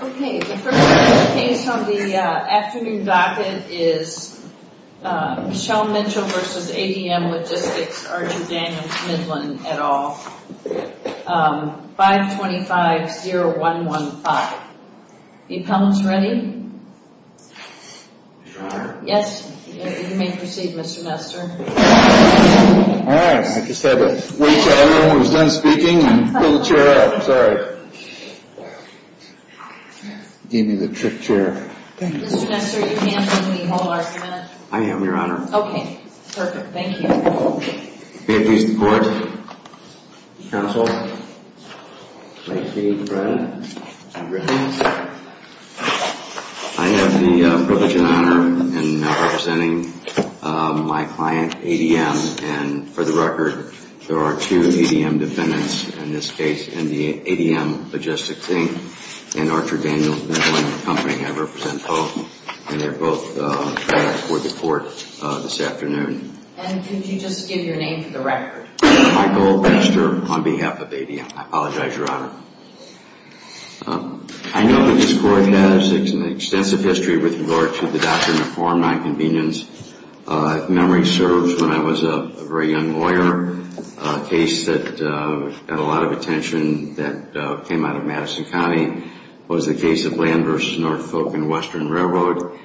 Okay, the first case on the afternoon docket is Michelle Mitchell v. ADM Logistics, Archie Daniels Midland, et al. 525-0115. The appellant's ready? Yes, you may proceed, Mr. Nestor. All right, I just had to wait until everyone was done speaking and pull the chair out. Sorry. Gave me the trick chair. Mr. Nestor, your hand's on me. Hold on a minute. I am, Your Honor. Okay, perfect. Thank you. May it please the Court, Counsel. Thank you, Brett. I have the privilege and honor in representing my client, ADM. And for the record, there are two ADM defendants in this case in the ADM Logistics, Inc. and Archie Daniels Midland Company. I represent both, and they're both before the Court this afternoon. And did you just give your name for the record? Michael Nestor on behalf of ADM. I apologize, Your Honor. I know that this Court has an extensive history with regard to the doctrine of foreign nonconvenience. If memory serves, when I was a very young lawyer, a case that got a lot of attention that came out of Madison County was the case of Land v. Norfolk and Western Railroad,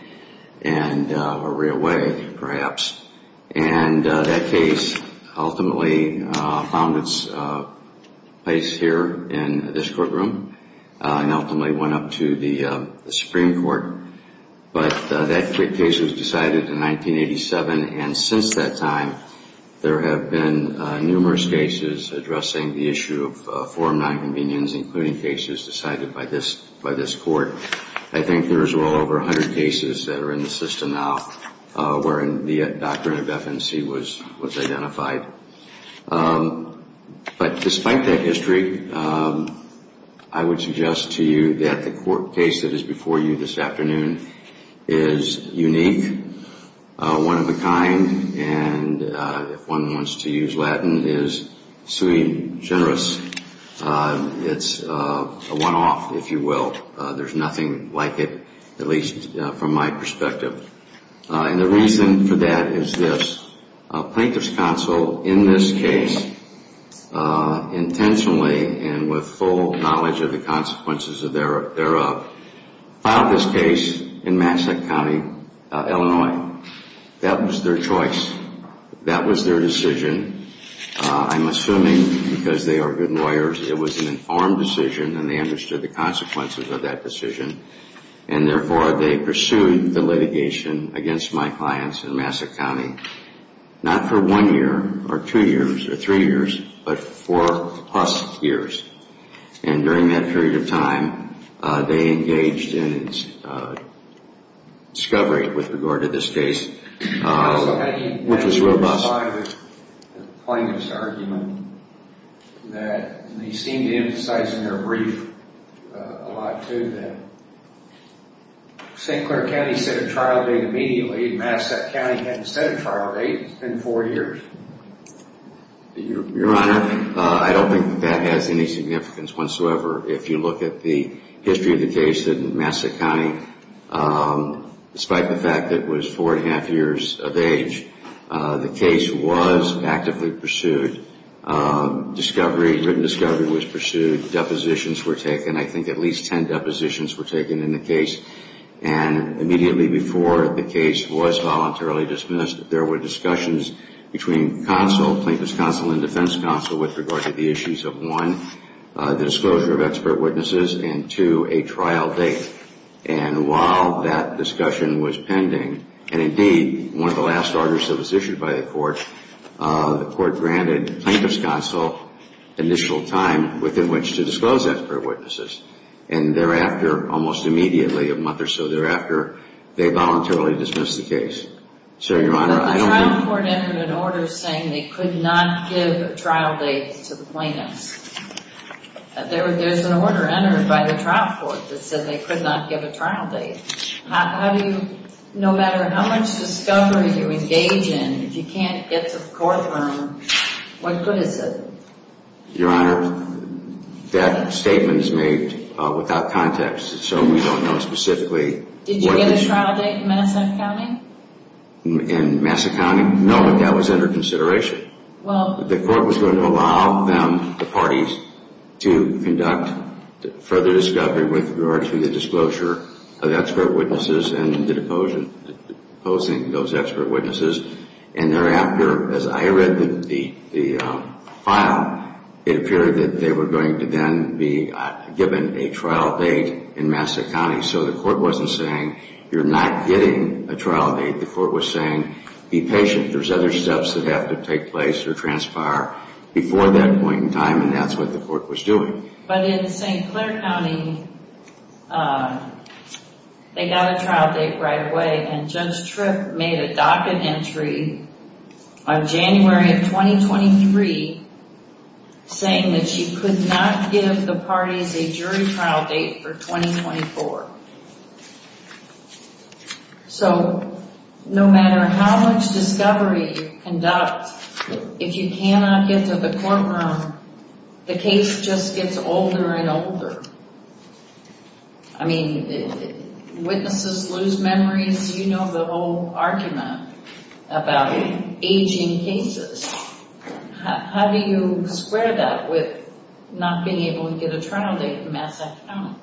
or Railway, perhaps. And that case ultimately found its place here in this courtroom and ultimately went up to the Supreme Court. But that case was decided in 1987. And since that time, there have been numerous cases addressing the issue of foreign nonconvenience, including cases decided by this Court. I think there's well over 100 cases that are in the system now wherein the doctrine of FNC was identified. But despite that history, I would suggest to you that the court case that is before you this afternoon is unique, one of a kind, and if one wants to use Latin, is sui generis. It's a one-off, if you will. There's nothing like it, at least from my perspective. And the reason for that is this. Plaintiff's counsel in this case intentionally and with full knowledge of the consequences thereof filed this case in Massachusetts County, Illinois. That was their choice. That was their decision. I'm assuming because they are good lawyers, it was an informed decision and they understood the consequences of that decision. And therefore, they pursued the litigation against my clients in Massachusetts County, not for one year or two years or three years, but four-plus years. And during that period of time, they engaged in discovery with regard to this case, which was robust. There's a lot of plaintiff's argument that they seem to emphasize in their brief a lot, too, that St. Clair County set a trial date immediately. Massachusetts County hadn't set a trial date in four years. Your Honor, I don't think that has any significance whatsoever. If you look at the history of the case in Massachusetts County, despite the fact that it was four and a half years of age, the case was actively pursued. Discovery, written discovery was pursued. Depositions were taken. I think at least ten depositions were taken in the case. And immediately before the case was voluntarily dismissed, there were discussions between counsel, plaintiff's counsel and defense counsel, with regard to the issues of, one, the disclosure of expert witnesses and, two, a trial date. And while that discussion was pending, and indeed, one of the last orders that was issued by the court, the court granted plaintiff's counsel initial time within which to disclose expert witnesses. And thereafter, almost immediately, a month or so thereafter, they voluntarily dismissed the case. But the trial court entered an order saying they could not give a trial date to the plaintiffs. There's an order entered by the trial court that said they could not give a trial date. No matter how much discovery you engage in, if you can't get to the courtroom, what good is it? Your Honor, that statement is made without context, so we don't know specifically. Did you get a trial date in Massachusetts County? In Massachusetts County? No, but that was under consideration. The court was going to allow them, the parties, to conduct further discovery with regard to the disclosure of expert witnesses and the deposing those expert witnesses. And thereafter, as I read the file, it appeared that they were going to then be given a trial date in Massachusetts County. So the court wasn't saying, you're not getting a trial date. The court was saying, be patient. There's other steps that have to take place or transpire before that point in time, and that's what the court was doing. But in St. Clair County, they got a trial date right away, and Judge Tripp made a docket entry on January of 2023 saying that she could not give the parties a jury trial date for 2024. So no matter how much discovery you conduct, if you cannot get to the courtroom, the case just gets older and older. I mean, witnesses lose memories. You know the whole argument about aging cases. How do you square that with not being able to get a trial date in Massachusetts County?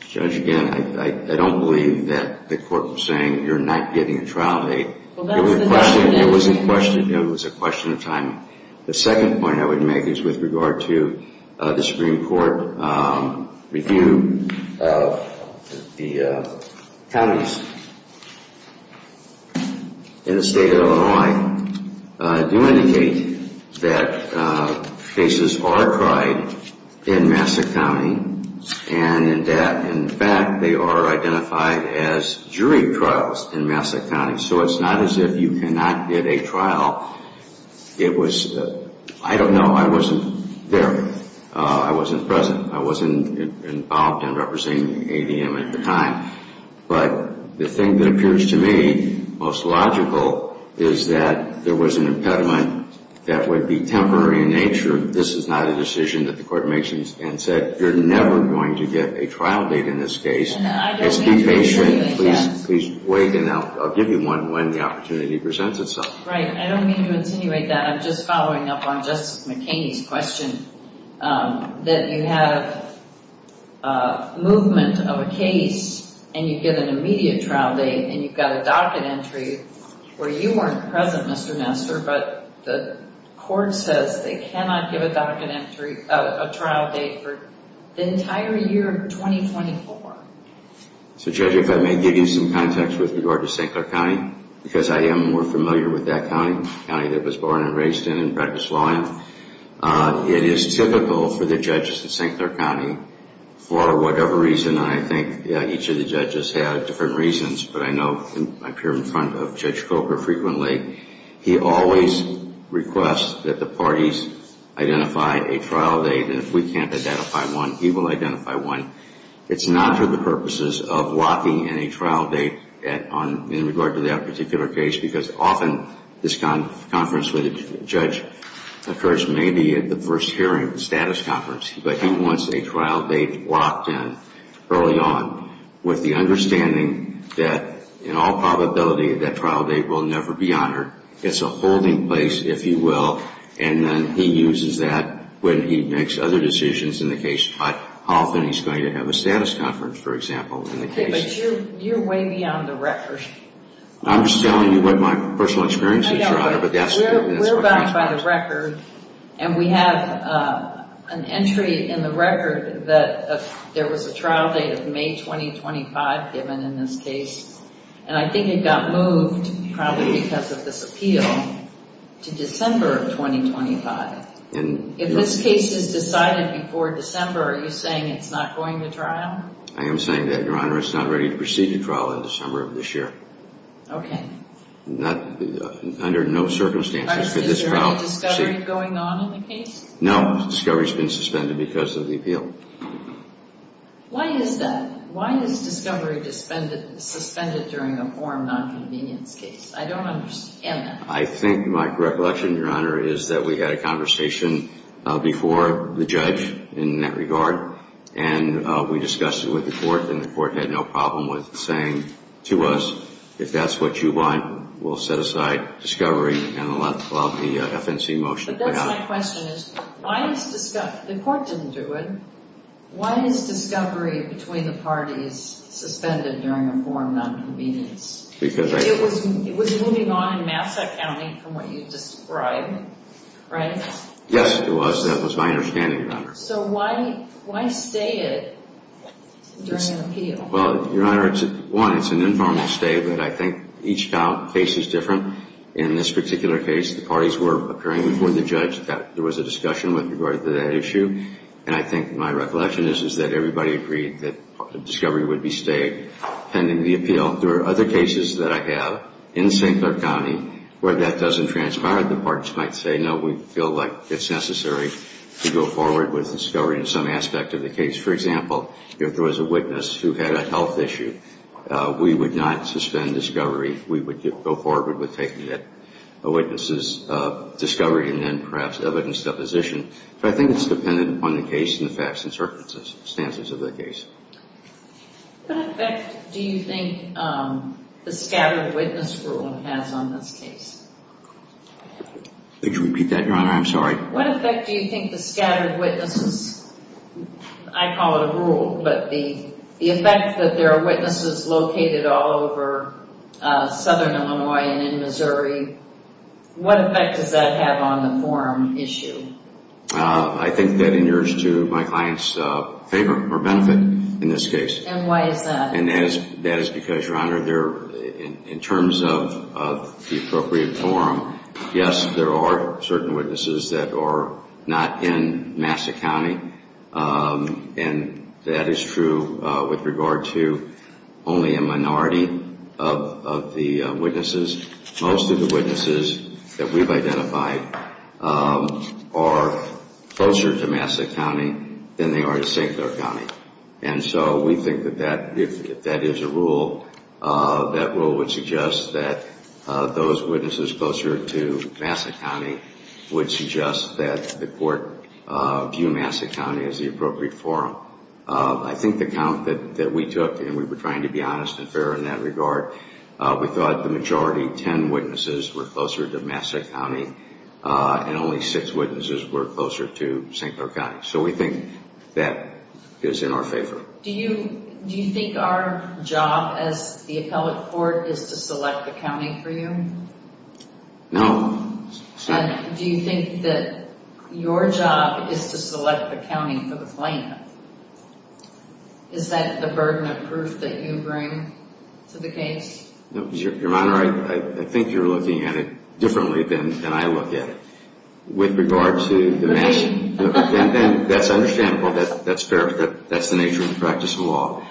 Judge, again, I don't believe that the court was saying, you're not getting a trial date. It was a question of timing. The second point I would make is with regard to the Supreme Court review of the counties in the state of Illinois. I do indicate that cases are tried in Massachusetts County and that, in fact, they are identified as jury trials in Massachusetts County. So it's not as if you cannot get a trial. I don't know. I wasn't there. I wasn't present. I wasn't involved in representing ADM at the time. But the thing that appears to me most logical is that there was an impediment that would be temporary in nature. This is not a decision that the court makes and said, you're never going to get a trial date in this case. And I don't mean to insinuate that. Please wait, and I'll give you one when the opportunity presents itself. Right. I don't mean to insinuate that. I'm just following up on Justice McKinney's question, that you have movement of a case and you get an immediate trial date and you've got a docket entry where you weren't present, Mr. Nestor, but the court says they cannot give a docket entry of a trial date for the entire year of 2024. So, Judge, if I may give you some context with regard to St. Clair County, because I am more familiar with that county, the county that was born and raised in and practiced law in, it is typical for the judges in St. Clair County, for whatever reason, and I think each of the judges had different reasons, but I know I'm here in front of Judge Coker frequently, he always requests that the parties identify a trial date. And if we can't identify one, he will identify one. It's not for the purposes of locking in a trial date in regard to that particular case, because often this conference with a judge occurs maybe at the first hearing of the status conference, but he wants a trial date locked in early on with the understanding that, in all probability, that trial date will never be honored. It's a holding place, if you will, and then he uses that when he makes other decisions in the case, but often he's going to have a status conference, for example, in the case. Okay, but you're way beyond the record. I'm just telling you what my personal experience is, Your Honor. We're bound by the record, and we have an entry in the record that there was a trial date of May 2025 given in this case, and I think it got moved, probably because of this appeal, to December of 2025. If this case is decided before December, are you saying it's not going to trial? I am saying that, Your Honor. It's not ready to proceed to trial in December of this year. Okay. Under no circumstances could this trial proceed. Is there any discovery going on in the case? No. Discovery's been suspended because of the appeal. Why is that? Why is discovery suspended during a form nonconvenience case? I don't understand that. I think my recollection, Your Honor, is that we had a conversation before the judge in that regard, and we discussed it with the court, and the court had no problem with saying to us, if that's what you want, we'll set aside discovery and allow the FNC motion to pass. But that's my question, is why is discovery – the court didn't do it. Why is discovery between the parties suspended during a form nonconvenience? It was moving on in Massachusetts County from what you described, right? Yes, it was. That was my understanding, Your Honor. So why stay it during an appeal? Well, Your Honor, one, it's an informal stay, but I think each case is different. In this particular case, the parties were appearing before the judge. There was a discussion with regard to that issue, and I think my recollection is that everybody agreed that discovery would be stayed pending the appeal. Now, there are other cases that I have in St. Clair County where that doesn't transpire. The parties might say, no, we feel like it's necessary to go forward with discovery in some aspect of the case. For example, if there was a witness who had a health issue, we would not suspend discovery. We would go forward with taking that witness's discovery and then perhaps evidence deposition. But I think it's dependent upon the case and the facts and circumstances of the case. What effect do you think the scattered witness rule has on this case? Could you repeat that, Your Honor? I'm sorry. What effect do you think the scattered witnesses, I call it a rule, but the effect that there are witnesses located all over southern Illinois and in Missouri, what effect does that have on the forum issue? I think that inures to my client's favor or benefit in this case. And why is that? And that is because, Your Honor, in terms of the appropriate forum, yes, there are certain witnesses that are not in Massachusetts County, and that is true with regard to only a minority of the witnesses. Most of the witnesses that we've identified are closer to Massachusetts County than they are to St. Clair County. And so we think that if that is a rule, that rule would suggest that those witnesses closer to Massachusetts County would suggest that the court view Massachusetts County as the appropriate forum. I think the count that we took, and we were trying to be honest and fair in that regard, we thought the majority ten witnesses were closer to Massachusetts County and only six witnesses were closer to St. Clair County. So we think that is in our favor. Do you think our job as the appellate court is to select the county for you? No. Do you think that your job is to select the county for the plaintiff? Is that the burden of proof that you bring to the case? Your Honor, I think you're looking at it differently than I look at it. With regard to the Massachusetts County, that's understandable, that's fair, but that's the nature of the practice of law.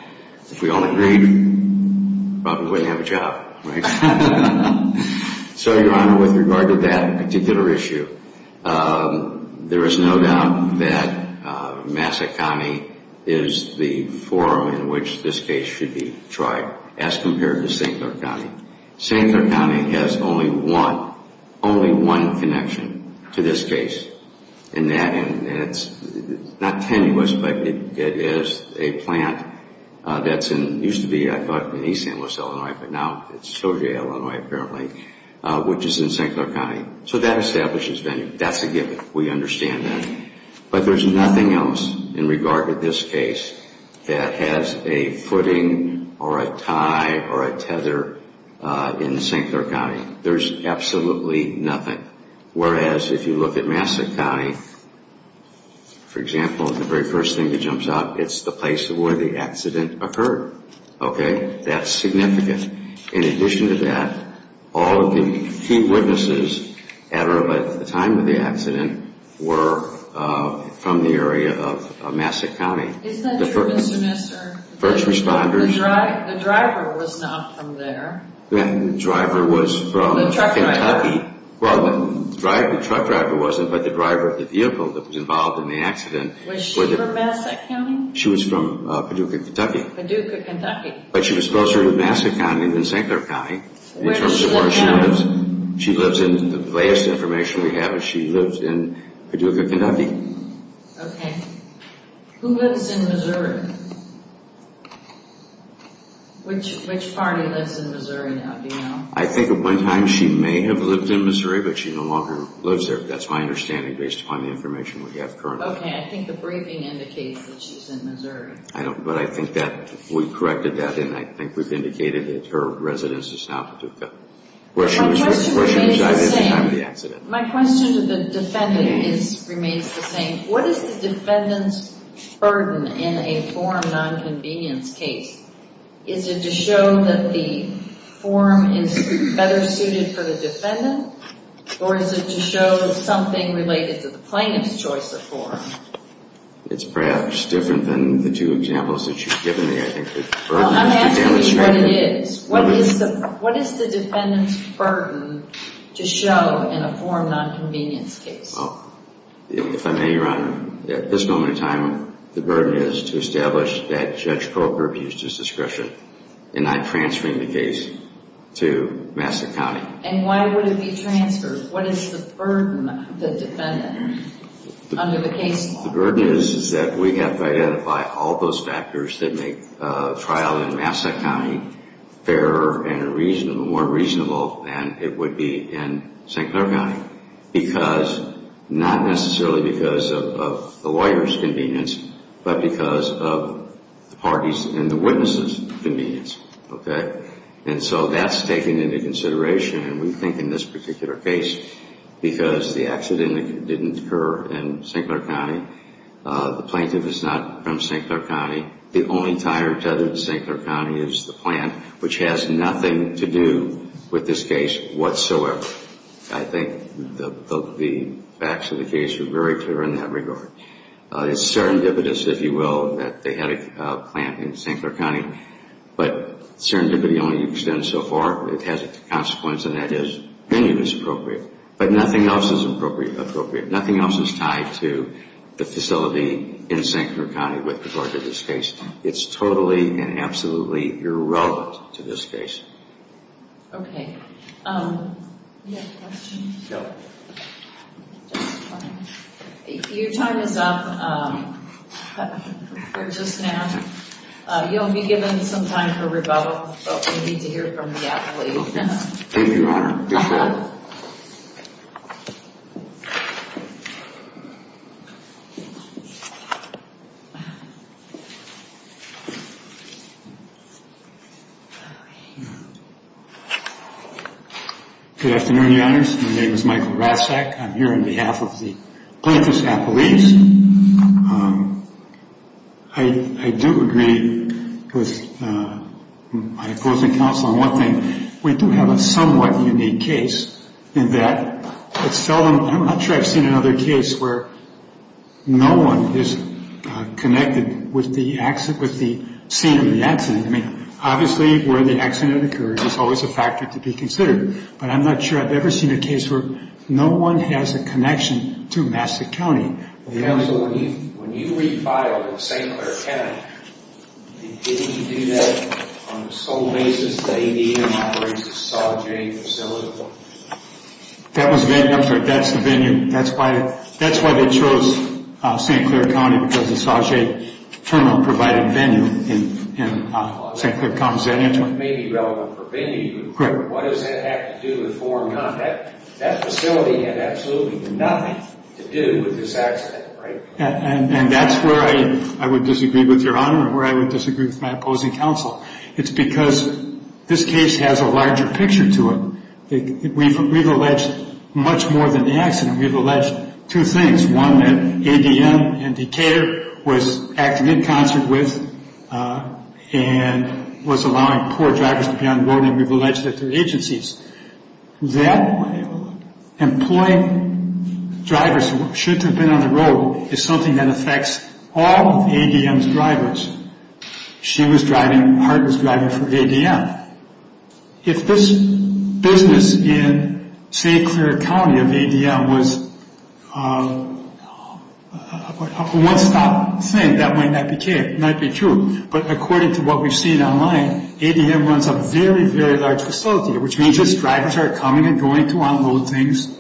If we all agreed, we probably wouldn't have a job, right? So, Your Honor, with regard to that particular issue, there is no doubt that Massa County is the forum in which this case should be tried as compared to St. Clair County. St. Clair County has only one connection to this case, and it's not tenuous, but it is a plant that used to be, I thought, in East St. Louis, Illinois, but now it's Soja, Illinois, apparently, which is in St. Clair County. So that establishes venue. That's a given. We understand that. But there's nothing else in regard to this case that has a footing or a tie or a tether in St. Clair County. There's absolutely nothing. Whereas, if you look at Massa County, for example, the very first thing that jumps out, it's the place where the accident occurred. Okay? That's significant. In addition to that, all of the key witnesses at or at the time of the accident were from the area of Massa County. Isn't that true, Mr. Messer? First responders. The driver was not from there. The driver was from Kentucky. The truck driver. Well, the truck driver wasn't, but the driver of the vehicle that was involved in the accident. Was she from Massa County? She was from Paducah, Kentucky. Paducah, Kentucky. But she was closer to Massa County than St. Clair County. Where does she live now? The latest information we have is she lives in Paducah, Kentucky. Okay. Who lives in Missouri? Which party lives in Missouri now, do you know? I think at one time she may have lived in Missouri, but she no longer lives there. That's my understanding based upon the information we have currently. Okay, I think the briefing indicates that she's in Missouri. But I think that we corrected that, and I think we've indicated that her residence is now Paducah, where she was at the time of the accident. My question to the defendant remains the same. What is the defendant's burden in a form nonconvenience case? Is it to show that the form is better suited for the defendant, or is it to show something related to the plaintiff's choice of form? It's perhaps different than the two examples that you've given me, I think. Well, I'm asking you what it is. What is the defendant's burden to show in a form nonconvenience case? If I may, Your Honor, at this moment in time, the burden is to establish that Judge Coker abused his discretion in not transferring the case to Massa County. And why would it be transferred? What is the burden of the defendant under the case law? The burden is that we have to identify all those factors that make a trial in Massa County fairer and more reasonable than it would be in St. Clair County, because not necessarily because of the lawyer's convenience, but because of the parties' and the witnesses' convenience, okay? And so that's taken into consideration, and we think in this particular case, because the accident didn't occur in St. Clair County. The plaintiff is not from St. Clair County. The only tie or tether to St. Clair County is the plant, which has nothing to do with this case whatsoever. I think the facts of the case are very clear in that regard. It's serendipitous, if you will, that they had a plant in St. Clair County, but serendipity only extends so far. It has a consequence, and that is venue is appropriate. But nothing else is appropriate. Nothing else is tied to the facility in St. Clair County with regard to this case. It's totally and absolutely irrelevant to this case. Okay. Do you have a question? No. Your time is up. They're just now. You'll be given some time for rebuttal, but we need to hear from the apple leaf. Thank you, Your Honor. You're welcome. Good afternoon, Your Honors. My name is Michael Roszak. I'm here on behalf of the Plants vs. Apple Leafs. I do agree with my opposing counsel on one thing. We do have a somewhat unique case in that it's seldom. I'm not sure I've seen another case where no one is connected with the scene of the accident. I mean, obviously, where the accident occurs is always a factor to be considered, but I'm not sure I've ever seen a case where no one has a connection to Massachusetts County. Counsel, when you refiled in St. Clair County, did you do that on the sole basis that ADM operates the Saw J facility? That's the venue. That's why they chose St. Clair County because the Saw J terminal provided venue in St. Clair County. What does that have to do with foreign contact? That facility had absolutely nothing to do with this accident, right? And that's where I would disagree with Your Honor, where I would disagree with my opposing counsel. It's because this case has a larger picture to it. We've alleged much more than the accident. We've alleged two things, one that ADM and Decatur was acting in concert with and was allowing poor drivers to be on the road, and we've alleged that through agencies. That employing drivers who should have been on the road is something that affects all of ADM's drivers. She was driving, Hart was driving for ADM. If this business in St. Clair County of ADM was a one-stop thing, that might not be true. But according to what we've seen online, ADM runs a very, very large facility, which means its drivers are coming and going to unload things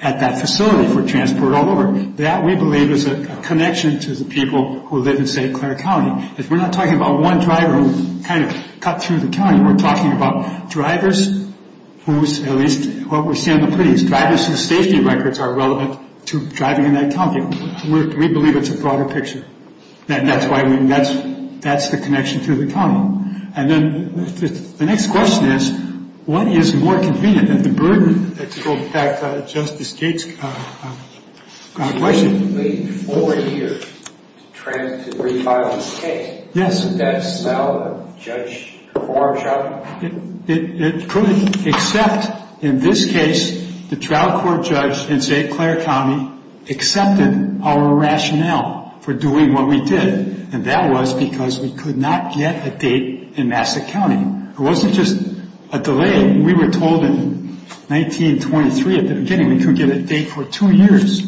at that facility for transport all over. That, we believe, is a connection to the people who live in St. Clair County. If we're not talking about one driver who kind of cut through the county, we're talking about drivers whose, at least what we see on the police, drivers whose safety records are relevant to driving in that county. We believe it's a broader picture, and that's the connection to the county. And then the next question is, what is more convenient, the burden, to go back to Justice Gates' question. It would take four years to transition to refiling the case. Yes. Would that sell Judge Kavarjian? It could, except in this case, the trial court judge in St. Clair County accepted our rationale for doing what we did, and that was because we could not get a date in Massachusetts County. It wasn't just a delay. We were told in 1923 at the beginning we couldn't get a date for two years.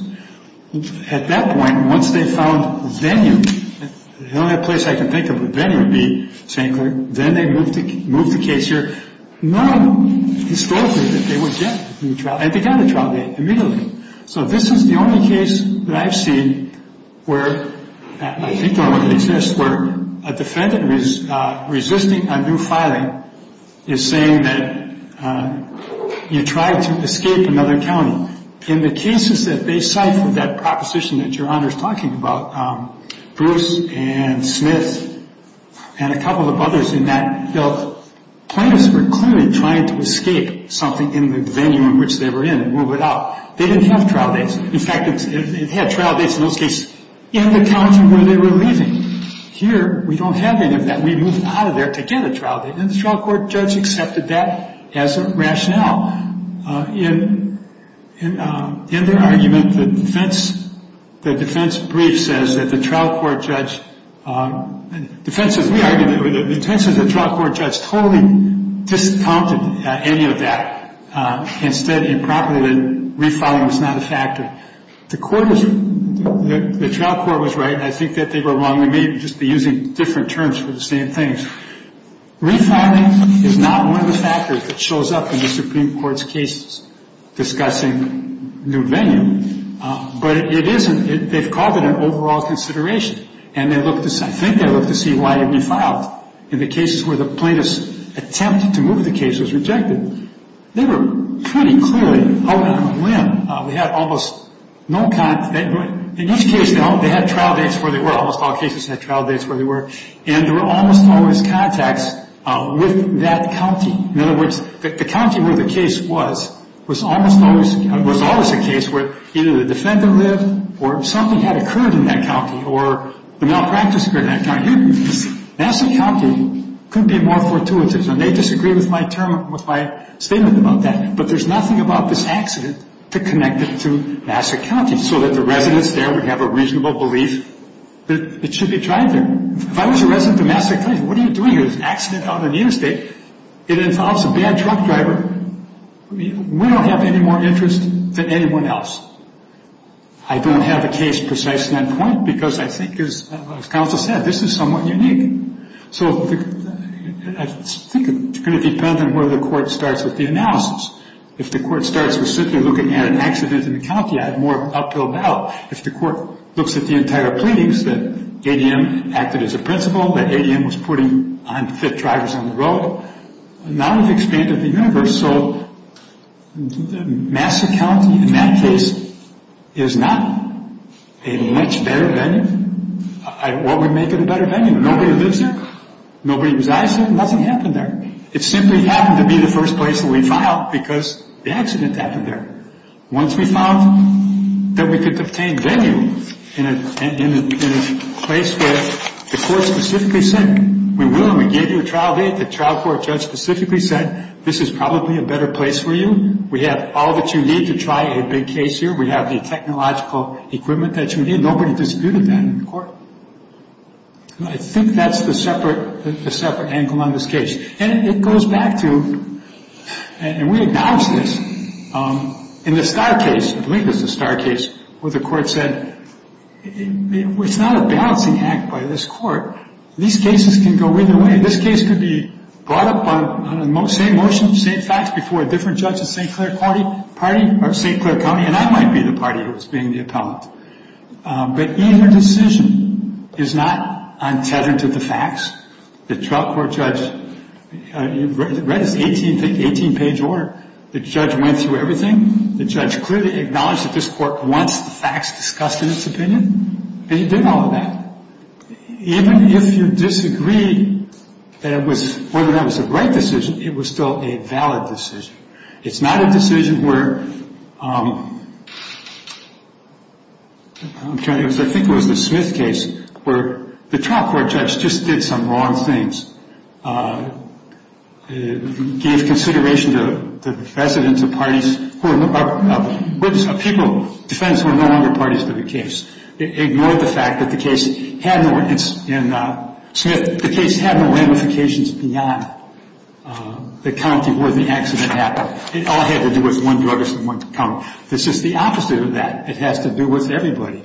At that point, once they found venue, the only place I can think of where venue would be in St. Clair, then they moved the case here. None historically that they would get a new trial, and they got a trial date immediately. So this is the only case that I've seen where a defendant resisting a new filing is saying that you tried to escape another county. In the cases that they cite for that proposition that Your Honor is talking about, Bruce and Smith and a couple of others in that bill, plaintiffs were clearly trying to escape something in the venue in which they were in and move it out. They didn't have trial dates. In fact, they had trial dates in those cases in the county where they were leaving. Here, we don't have any of that. We moved out of there to get a trial date, and the trial court judge accepted that as a rationale. In their argument, the defense brief says that the trial court judge, defense says we argued it, but the defense says the trial court judge totally discounted any of that. Instead, he prompted that refiling was not a factor. The trial court was right, and I think that they were wrong. They may just be using different terms for the same things. Refiling is not one of the factors that shows up in the Supreme Court's cases discussing new venue, but it isn't. They've called it an overall consideration, and I think they looked to see why it refiled in the cases where the plaintiff's attempt to move the case was rejected. They were pretty clearly held on a limb. In each case, they had trial dates where they were. Almost all cases had trial dates where they were, and there were almost always contacts with that county. In other words, the county where the case was was always a case where either the defendant lived or something had occurred in that county or the malpractice occurred in that county. Nassau County could be more fortuitous, and they disagree with my statement about that, but there's nothing about this accident to connect it to Nassau County so that the residents there would have a reasonable belief that it should be tried there. If I was a resident of Nassau County, what are you doing? There's an accident out on the interstate. It involves a bad truck driver. We don't have any more interest than anyone else. I don't have a case precisely on that point because I think, as counsel said, this is somewhat unique. So I think it's going to depend on where the court starts with the analysis. If the court starts with simply looking at an accident in the county, I have more uphill battle. If the court looks at the entire pleadings, that ADM acted as a principal, that ADM was putting unfit drivers on the road, now we've expanded the universe, so Nassau County, in that case, is not a much better venue. What would make it a better venue? Nobody lives there. Nobody resides there. Nothing happened there. It simply happened to be the first place that we filed because the accident happened there. Once we filed, then we could obtain venue in a place where the court specifically said, we will and we gave you a trial date. The trial court judge specifically said, this is probably a better place for you. We have all that you need to try a big case here. We have the technological equipment that you need. Nobody disputed that in court. I think that's the separate angle on this case. And it goes back to, and we acknowledged this, in the Starr case, I believe it was the Starr case, where the court said, it's not a balancing act by this court. These cases can go either way. This case could be brought up on the same motion, same facts, before a different judge in St. Clair County, and I might be the party who is being the appellant. But either decision is not untethered to the facts. The trial court judge read his 18-page order. The judge went through everything. The judge clearly acknowledged that this court wants the facts discussed in its opinion. And he did all of that. Even if you disagree that it was, whether that was a right decision, it was still a valid decision. It's not a decision where, I think it was the Smith case, where the trial court judge just did some wrong things. Gave consideration to the precedents of parties, of people, defendants who are no longer parties to the case. Ignored the fact that the case had no ramifications beyond the county where the accident happened. It all had to do with one drugist in one county. It's just the opposite of that. It has to do with everybody.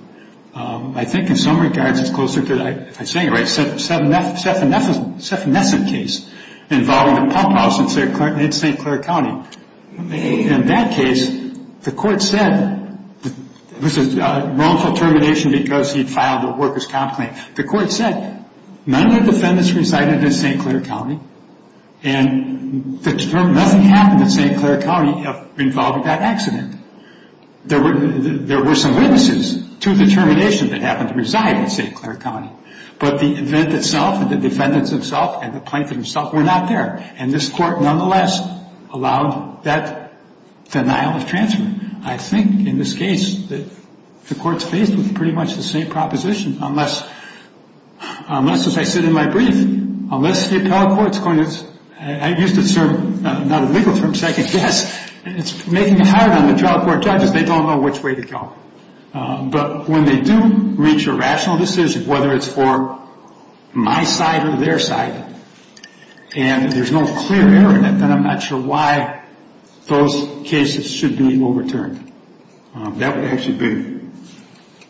I think in some regards it's closer to, if I'm saying it right, a Sefnesic case involving a pump house in St. Clair County. In that case, the court said it was a wrongful termination because he filed a worker's comp claim. The court said none of the defendants resided in St. Clair County. And nothing happened in St. Clair County involving that accident. There were some witnesses to the termination that happened to reside in St. Clair County. But the event itself, the defendants themselves, and the plaintiff himself were not there. And this court, nonetheless, allowed that denial of transfer. I think in this case the court's faced with pretty much the same proposition, unless, as I said in my brief, unless the appellate court's going to, I used a term, not a legal term, second guess. It's making it hard on the trial court judges. They don't know which way to go. But when they do reach a rational decision, whether it's for my side or their side, and there's no clear error in it, then I'm not sure why those cases should be overturned. That would actually be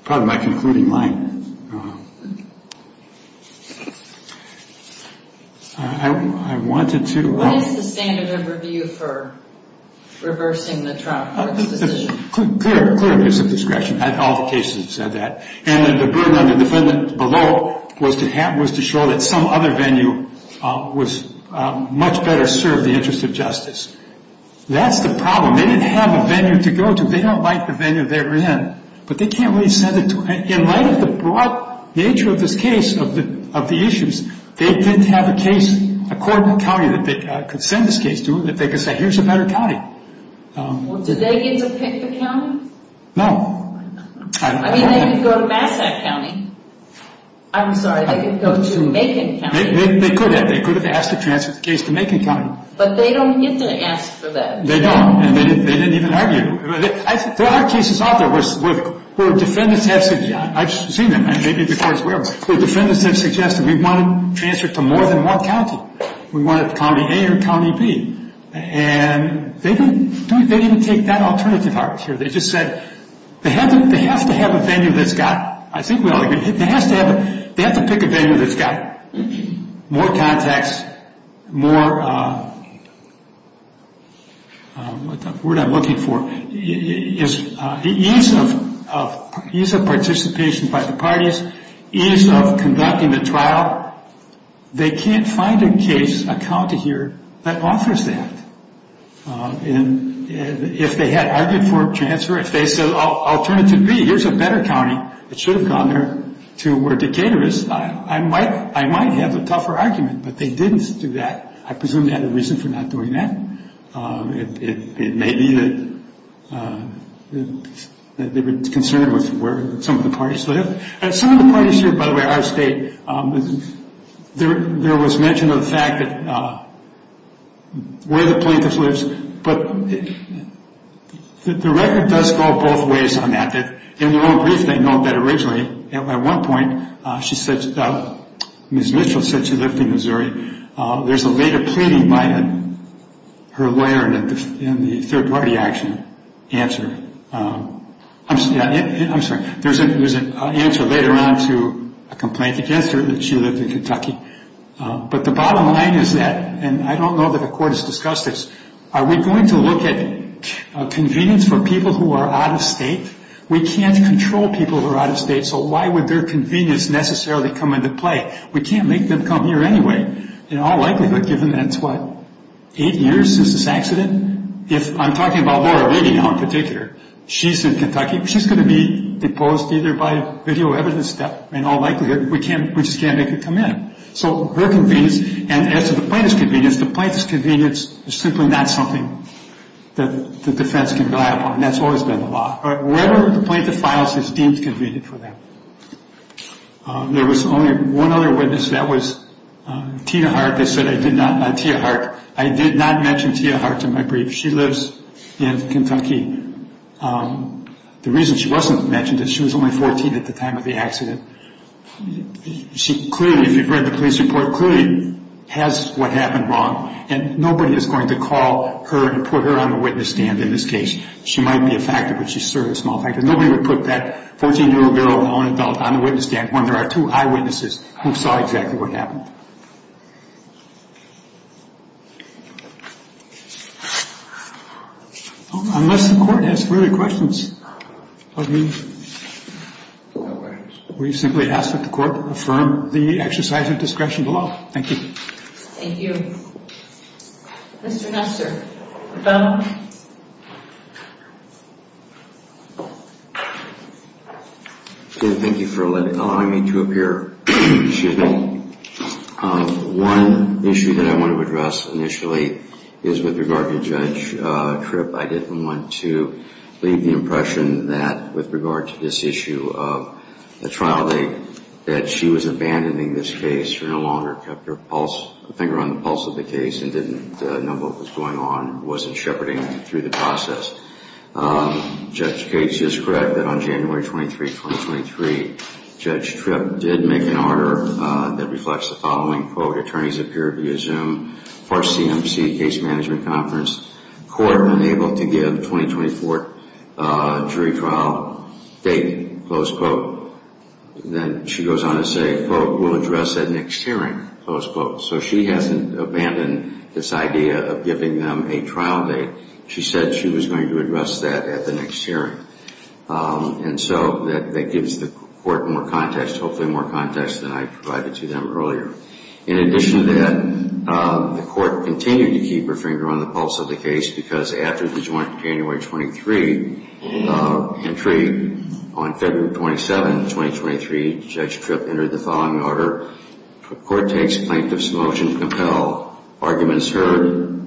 probably my concluding line. I wanted to... What is the standard of review for reversing the trial court's decision? Clear, clear. There's a discretion. All the cases have said that. And the burden on the defendant below was to show that some other venue was much better served, the interest of justice. That's the problem. They didn't have a venue to go to. They don't like the venue they were in. But they can't really send it to... In light of the broad nature of this case, of the issues, they didn't have a case, a court in the county that they could send this case to, that they could say, here's a better county. Did they get to pick the county? No. I mean, they could go to Massach County. I'm sorry, they could go to Macon County. They could have. They could have asked to transfer the case to Macon County. But they don't get to ask for that. They don't. And they didn't even argue. There are cases out there where defendants have... I've seen them, maybe before as well. Where defendants have suggested, we want to transfer it to more than one county. We want it to County A or County B. And they didn't take that alternative arc here. They just said, they have to have a venue that's got... I think we all agree. They have to pick a venue that's got more context, more... The word I'm looking for is ease of participation by the parties, ease of conducting the trial. They can't find a case, a county here, that offers that. If they had argued for a transfer, if they said, alternative B, here's a better county, it should have gone there, to where Decatur is, I might have a tougher argument. But they didn't do that. I presume they had a reason for not doing that. It may be that they were concerned with where some of the parties live. Some of the parties here, by the way, our state, there was mention of the fact that where the plaintiff lives. But the record does go both ways on that. In the long brief, they note that originally, at one point, she said, Ms. Mitchell said she lived in Missouri. There's a later pleading by her lawyer in the third party action answer. I'm sorry. There's an answer later on to a complaint against her that she lived in Kentucky. But the bottom line is that, and I don't know that the court has discussed this, are we going to look at convenience for people who are out of state? We can't control people who are out of state, so why would their convenience necessarily come into play? We can't make them come here anyway. In all likelihood, given that it's, what, eight years since this accident? I'm talking about Laura Leadingham in particular. She's in Kentucky. She's going to be deposed either by video evidence in all likelihood. We just can't make her come in. So her convenience, and as to the plaintiff's convenience, the plaintiff's convenience is simply not something that the defense can rely upon, and that's always been the law. Wherever the plaintiff files, it's deemed convenient for them. There was only one other witness. That was Tia Hart. They said I did not mention Tia Hart. She lives in Kentucky. The reason she wasn't mentioned is she was only 14 at the time of the accident. She clearly, if you've read the police report, clearly has what happened wrong, and nobody is going to call her and put her on the witness stand in this case. She might be a factor, but she's sort of a small factor. Nobody would put that 14-year-old girl, now an adult, on the witness stand when there are two eyewitnesses who saw exactly what happened. Unless the Court has further questions of me, we simply ask that the Court affirm the exercise of discretion below. Thank you. Thank you. Mr. Nestor. Thank you for allowing me to appear. Excuse me. One issue that I want to address initially is with regard to Judge Tripp. I didn't want to leave the impression that with regard to this issue of the trial date that she was abandoning this case. She no longer kept her finger on the pulse of the case and didn't know what was going on and wasn't shepherding through the process. Judge Gates is correct that on January 23, 2023, Judge Tripp did make an order that reflects the following, quote, attorneys appear to assume for CMC, case management conference, court unable to give 2024 jury trial date, close quote. Then she goes on to say, quote, we'll address that next hearing, close quote. So she hasn't abandoned this idea of giving them a trial date. She said she was going to address that at the next hearing. And so that gives the Court more context, hopefully more context than I provided to them earlier. In addition to that, the Court continued to keep her finger on the pulse of the case because after the joint January 23 entry, on February 27, 2023, Judge Tripp entered the following order, court takes plaintiff's motion to compel, arguments heard,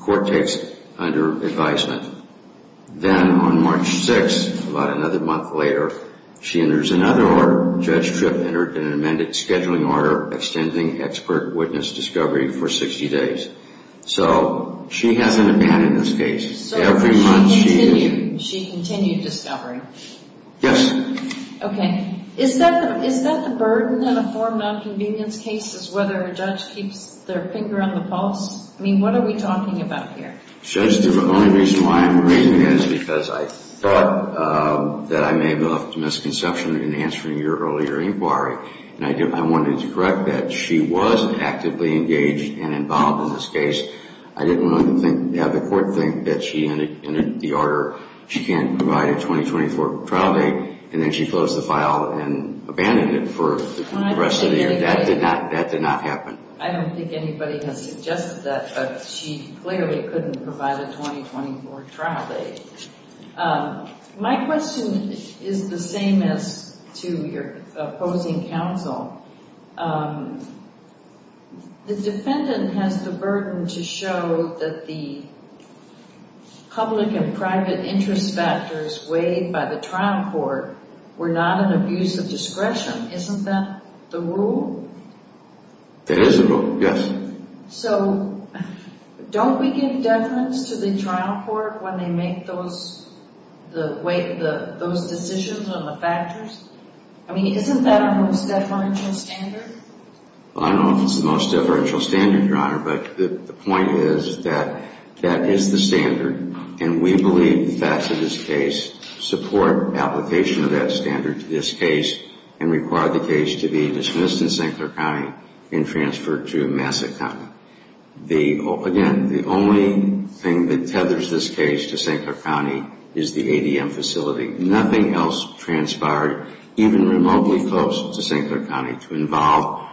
court takes under advisement. Then on March 6, about another month later, she enters another order. Judge Tripp entered an amended scheduling order extending expert witness discovery for 60 days. So she hasn't abandoned this case. So she continued discovery? Yes. Okay. Is that the burden in a form nonconvenience case is whether a judge keeps their finger on the pulse? I mean, what are we talking about here? Judge, the only reason why I'm raising that is because I thought that I may have left a misconception in answering your earlier inquiry, and I wanted to correct that. She was actively engaged and involved in this case. I didn't want to have the Court think that she entered the order, she can't provide a 2024 trial date, and then she closed the file and abandoned it for the rest of the year. That did not happen. I don't think anybody has suggested that, but she clearly couldn't provide a 2024 trial date. My question is the same as to your opposing counsel. The defendant has the burden to show that the public and private interest factors weighed by the trial court were not an abuse of discretion. Isn't that the rule? It is the rule, yes. So don't we give judgments to the trial court when they make those decisions on the factors? I mean, isn't that our most deferential standard? I don't know if it's the most deferential standard, Your Honor, but the point is that that is the standard, and we believe the facts of this case support application of that standard to this case and require the case to be dismissed in St. Clair County and transferred to Massac County. Again, the only thing that tethers this case to St. Clair County is the ADM facility. Nothing else transpired, even remotely close to St. Clair County, to involve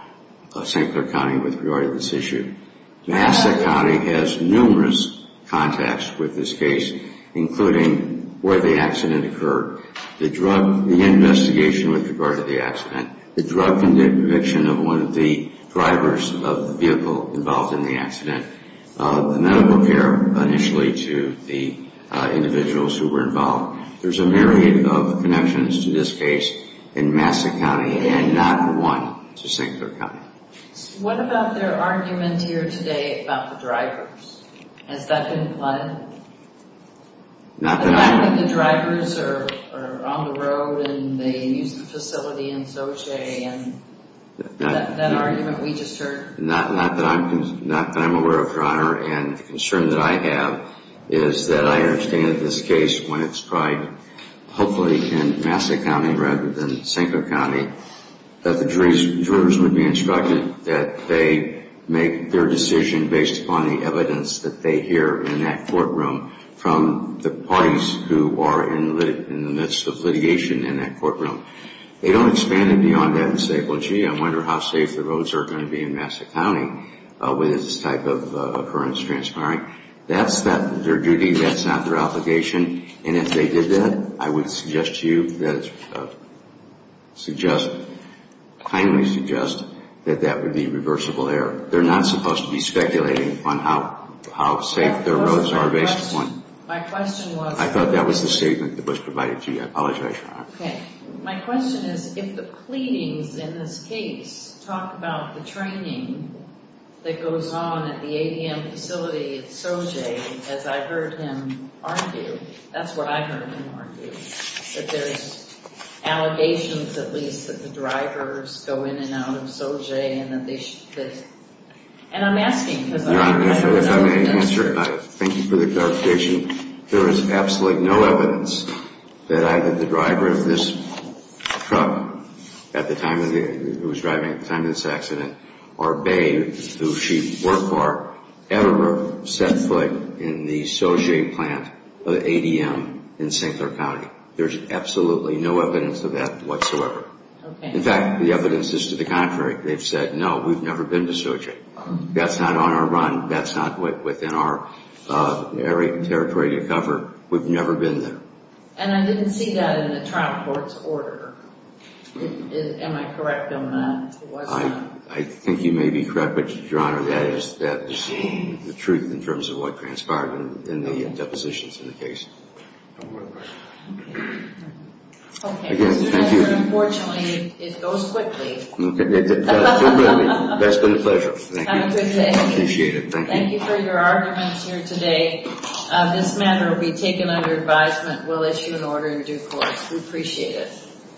St. Clair County with regard to this issue. Massac County has numerous contacts with this case, including where the accident occurred, the drug, the investigation with regard to the accident, the drug conviction of one of the drivers of the vehicle involved in the accident, the medical care initially to the individuals who were involved. There's a myriad of connections to this case in Massac County and not one to St. Clair County. What about their argument here today about the drivers? Has that been implied? Not that I'm aware of. The fact that the drivers are on the road and they use the facility in Xochitl and that argument we just heard. Not that I'm aware of, Your Honor, and the concern that I have is that I understand this case when it's probably, hopefully in Massac County rather than St. Clair County, that the jurors would be instructed that they make their decision based upon the evidence that they hear in that courtroom from the parties who are in the midst of litigation in that courtroom. They don't expand it beyond that and say, well, gee, I wonder how safe the roads are going to be in Massac County with this type of occurrence transpiring. That's not their duty. That's not their obligation. And if they did that, I would suggest to you, kindly suggest, that that would be reversible error. They're not supposed to be speculating on how safe their roads are based upon. My question was. I thought that was the statement that was provided to you. I apologize, Your Honor. Okay. My question is if the pleadings in this case talk about the training that goes on at the ADM facility at Xochitl, as I heard him argue. That's what I heard him argue. That there's allegations at least that the drivers go in and out of Xochitl. And I'm asking. Your Honor, if I may answer. Thank you for the clarification. There is absolutely no evidence that either the driver of this truck at the time of the, who was driving at the time of this accident, or Bay, who she worked for, ever set foot in the Xochitl plant of the ADM in St. Clair County. There's absolutely no evidence of that whatsoever. Okay. In fact, the evidence is to the contrary. They've said, no, we've never been to Xochitl. That's not on our run. That's not within our territory to cover. We've never been there. And I didn't see that in the trial court's order. Am I correct on that? I think you may be correct. But, Your Honor, that is the truth in terms of what transpired in the depositions in the case. No more questions. Okay. Thank you. Unfortunately, it goes quickly. That's been a pleasure. Have a good day. I appreciate it. Thank you. Thank you for your arguments here today. This matter will be taken under advisement. We'll issue an order in due course. We appreciate it.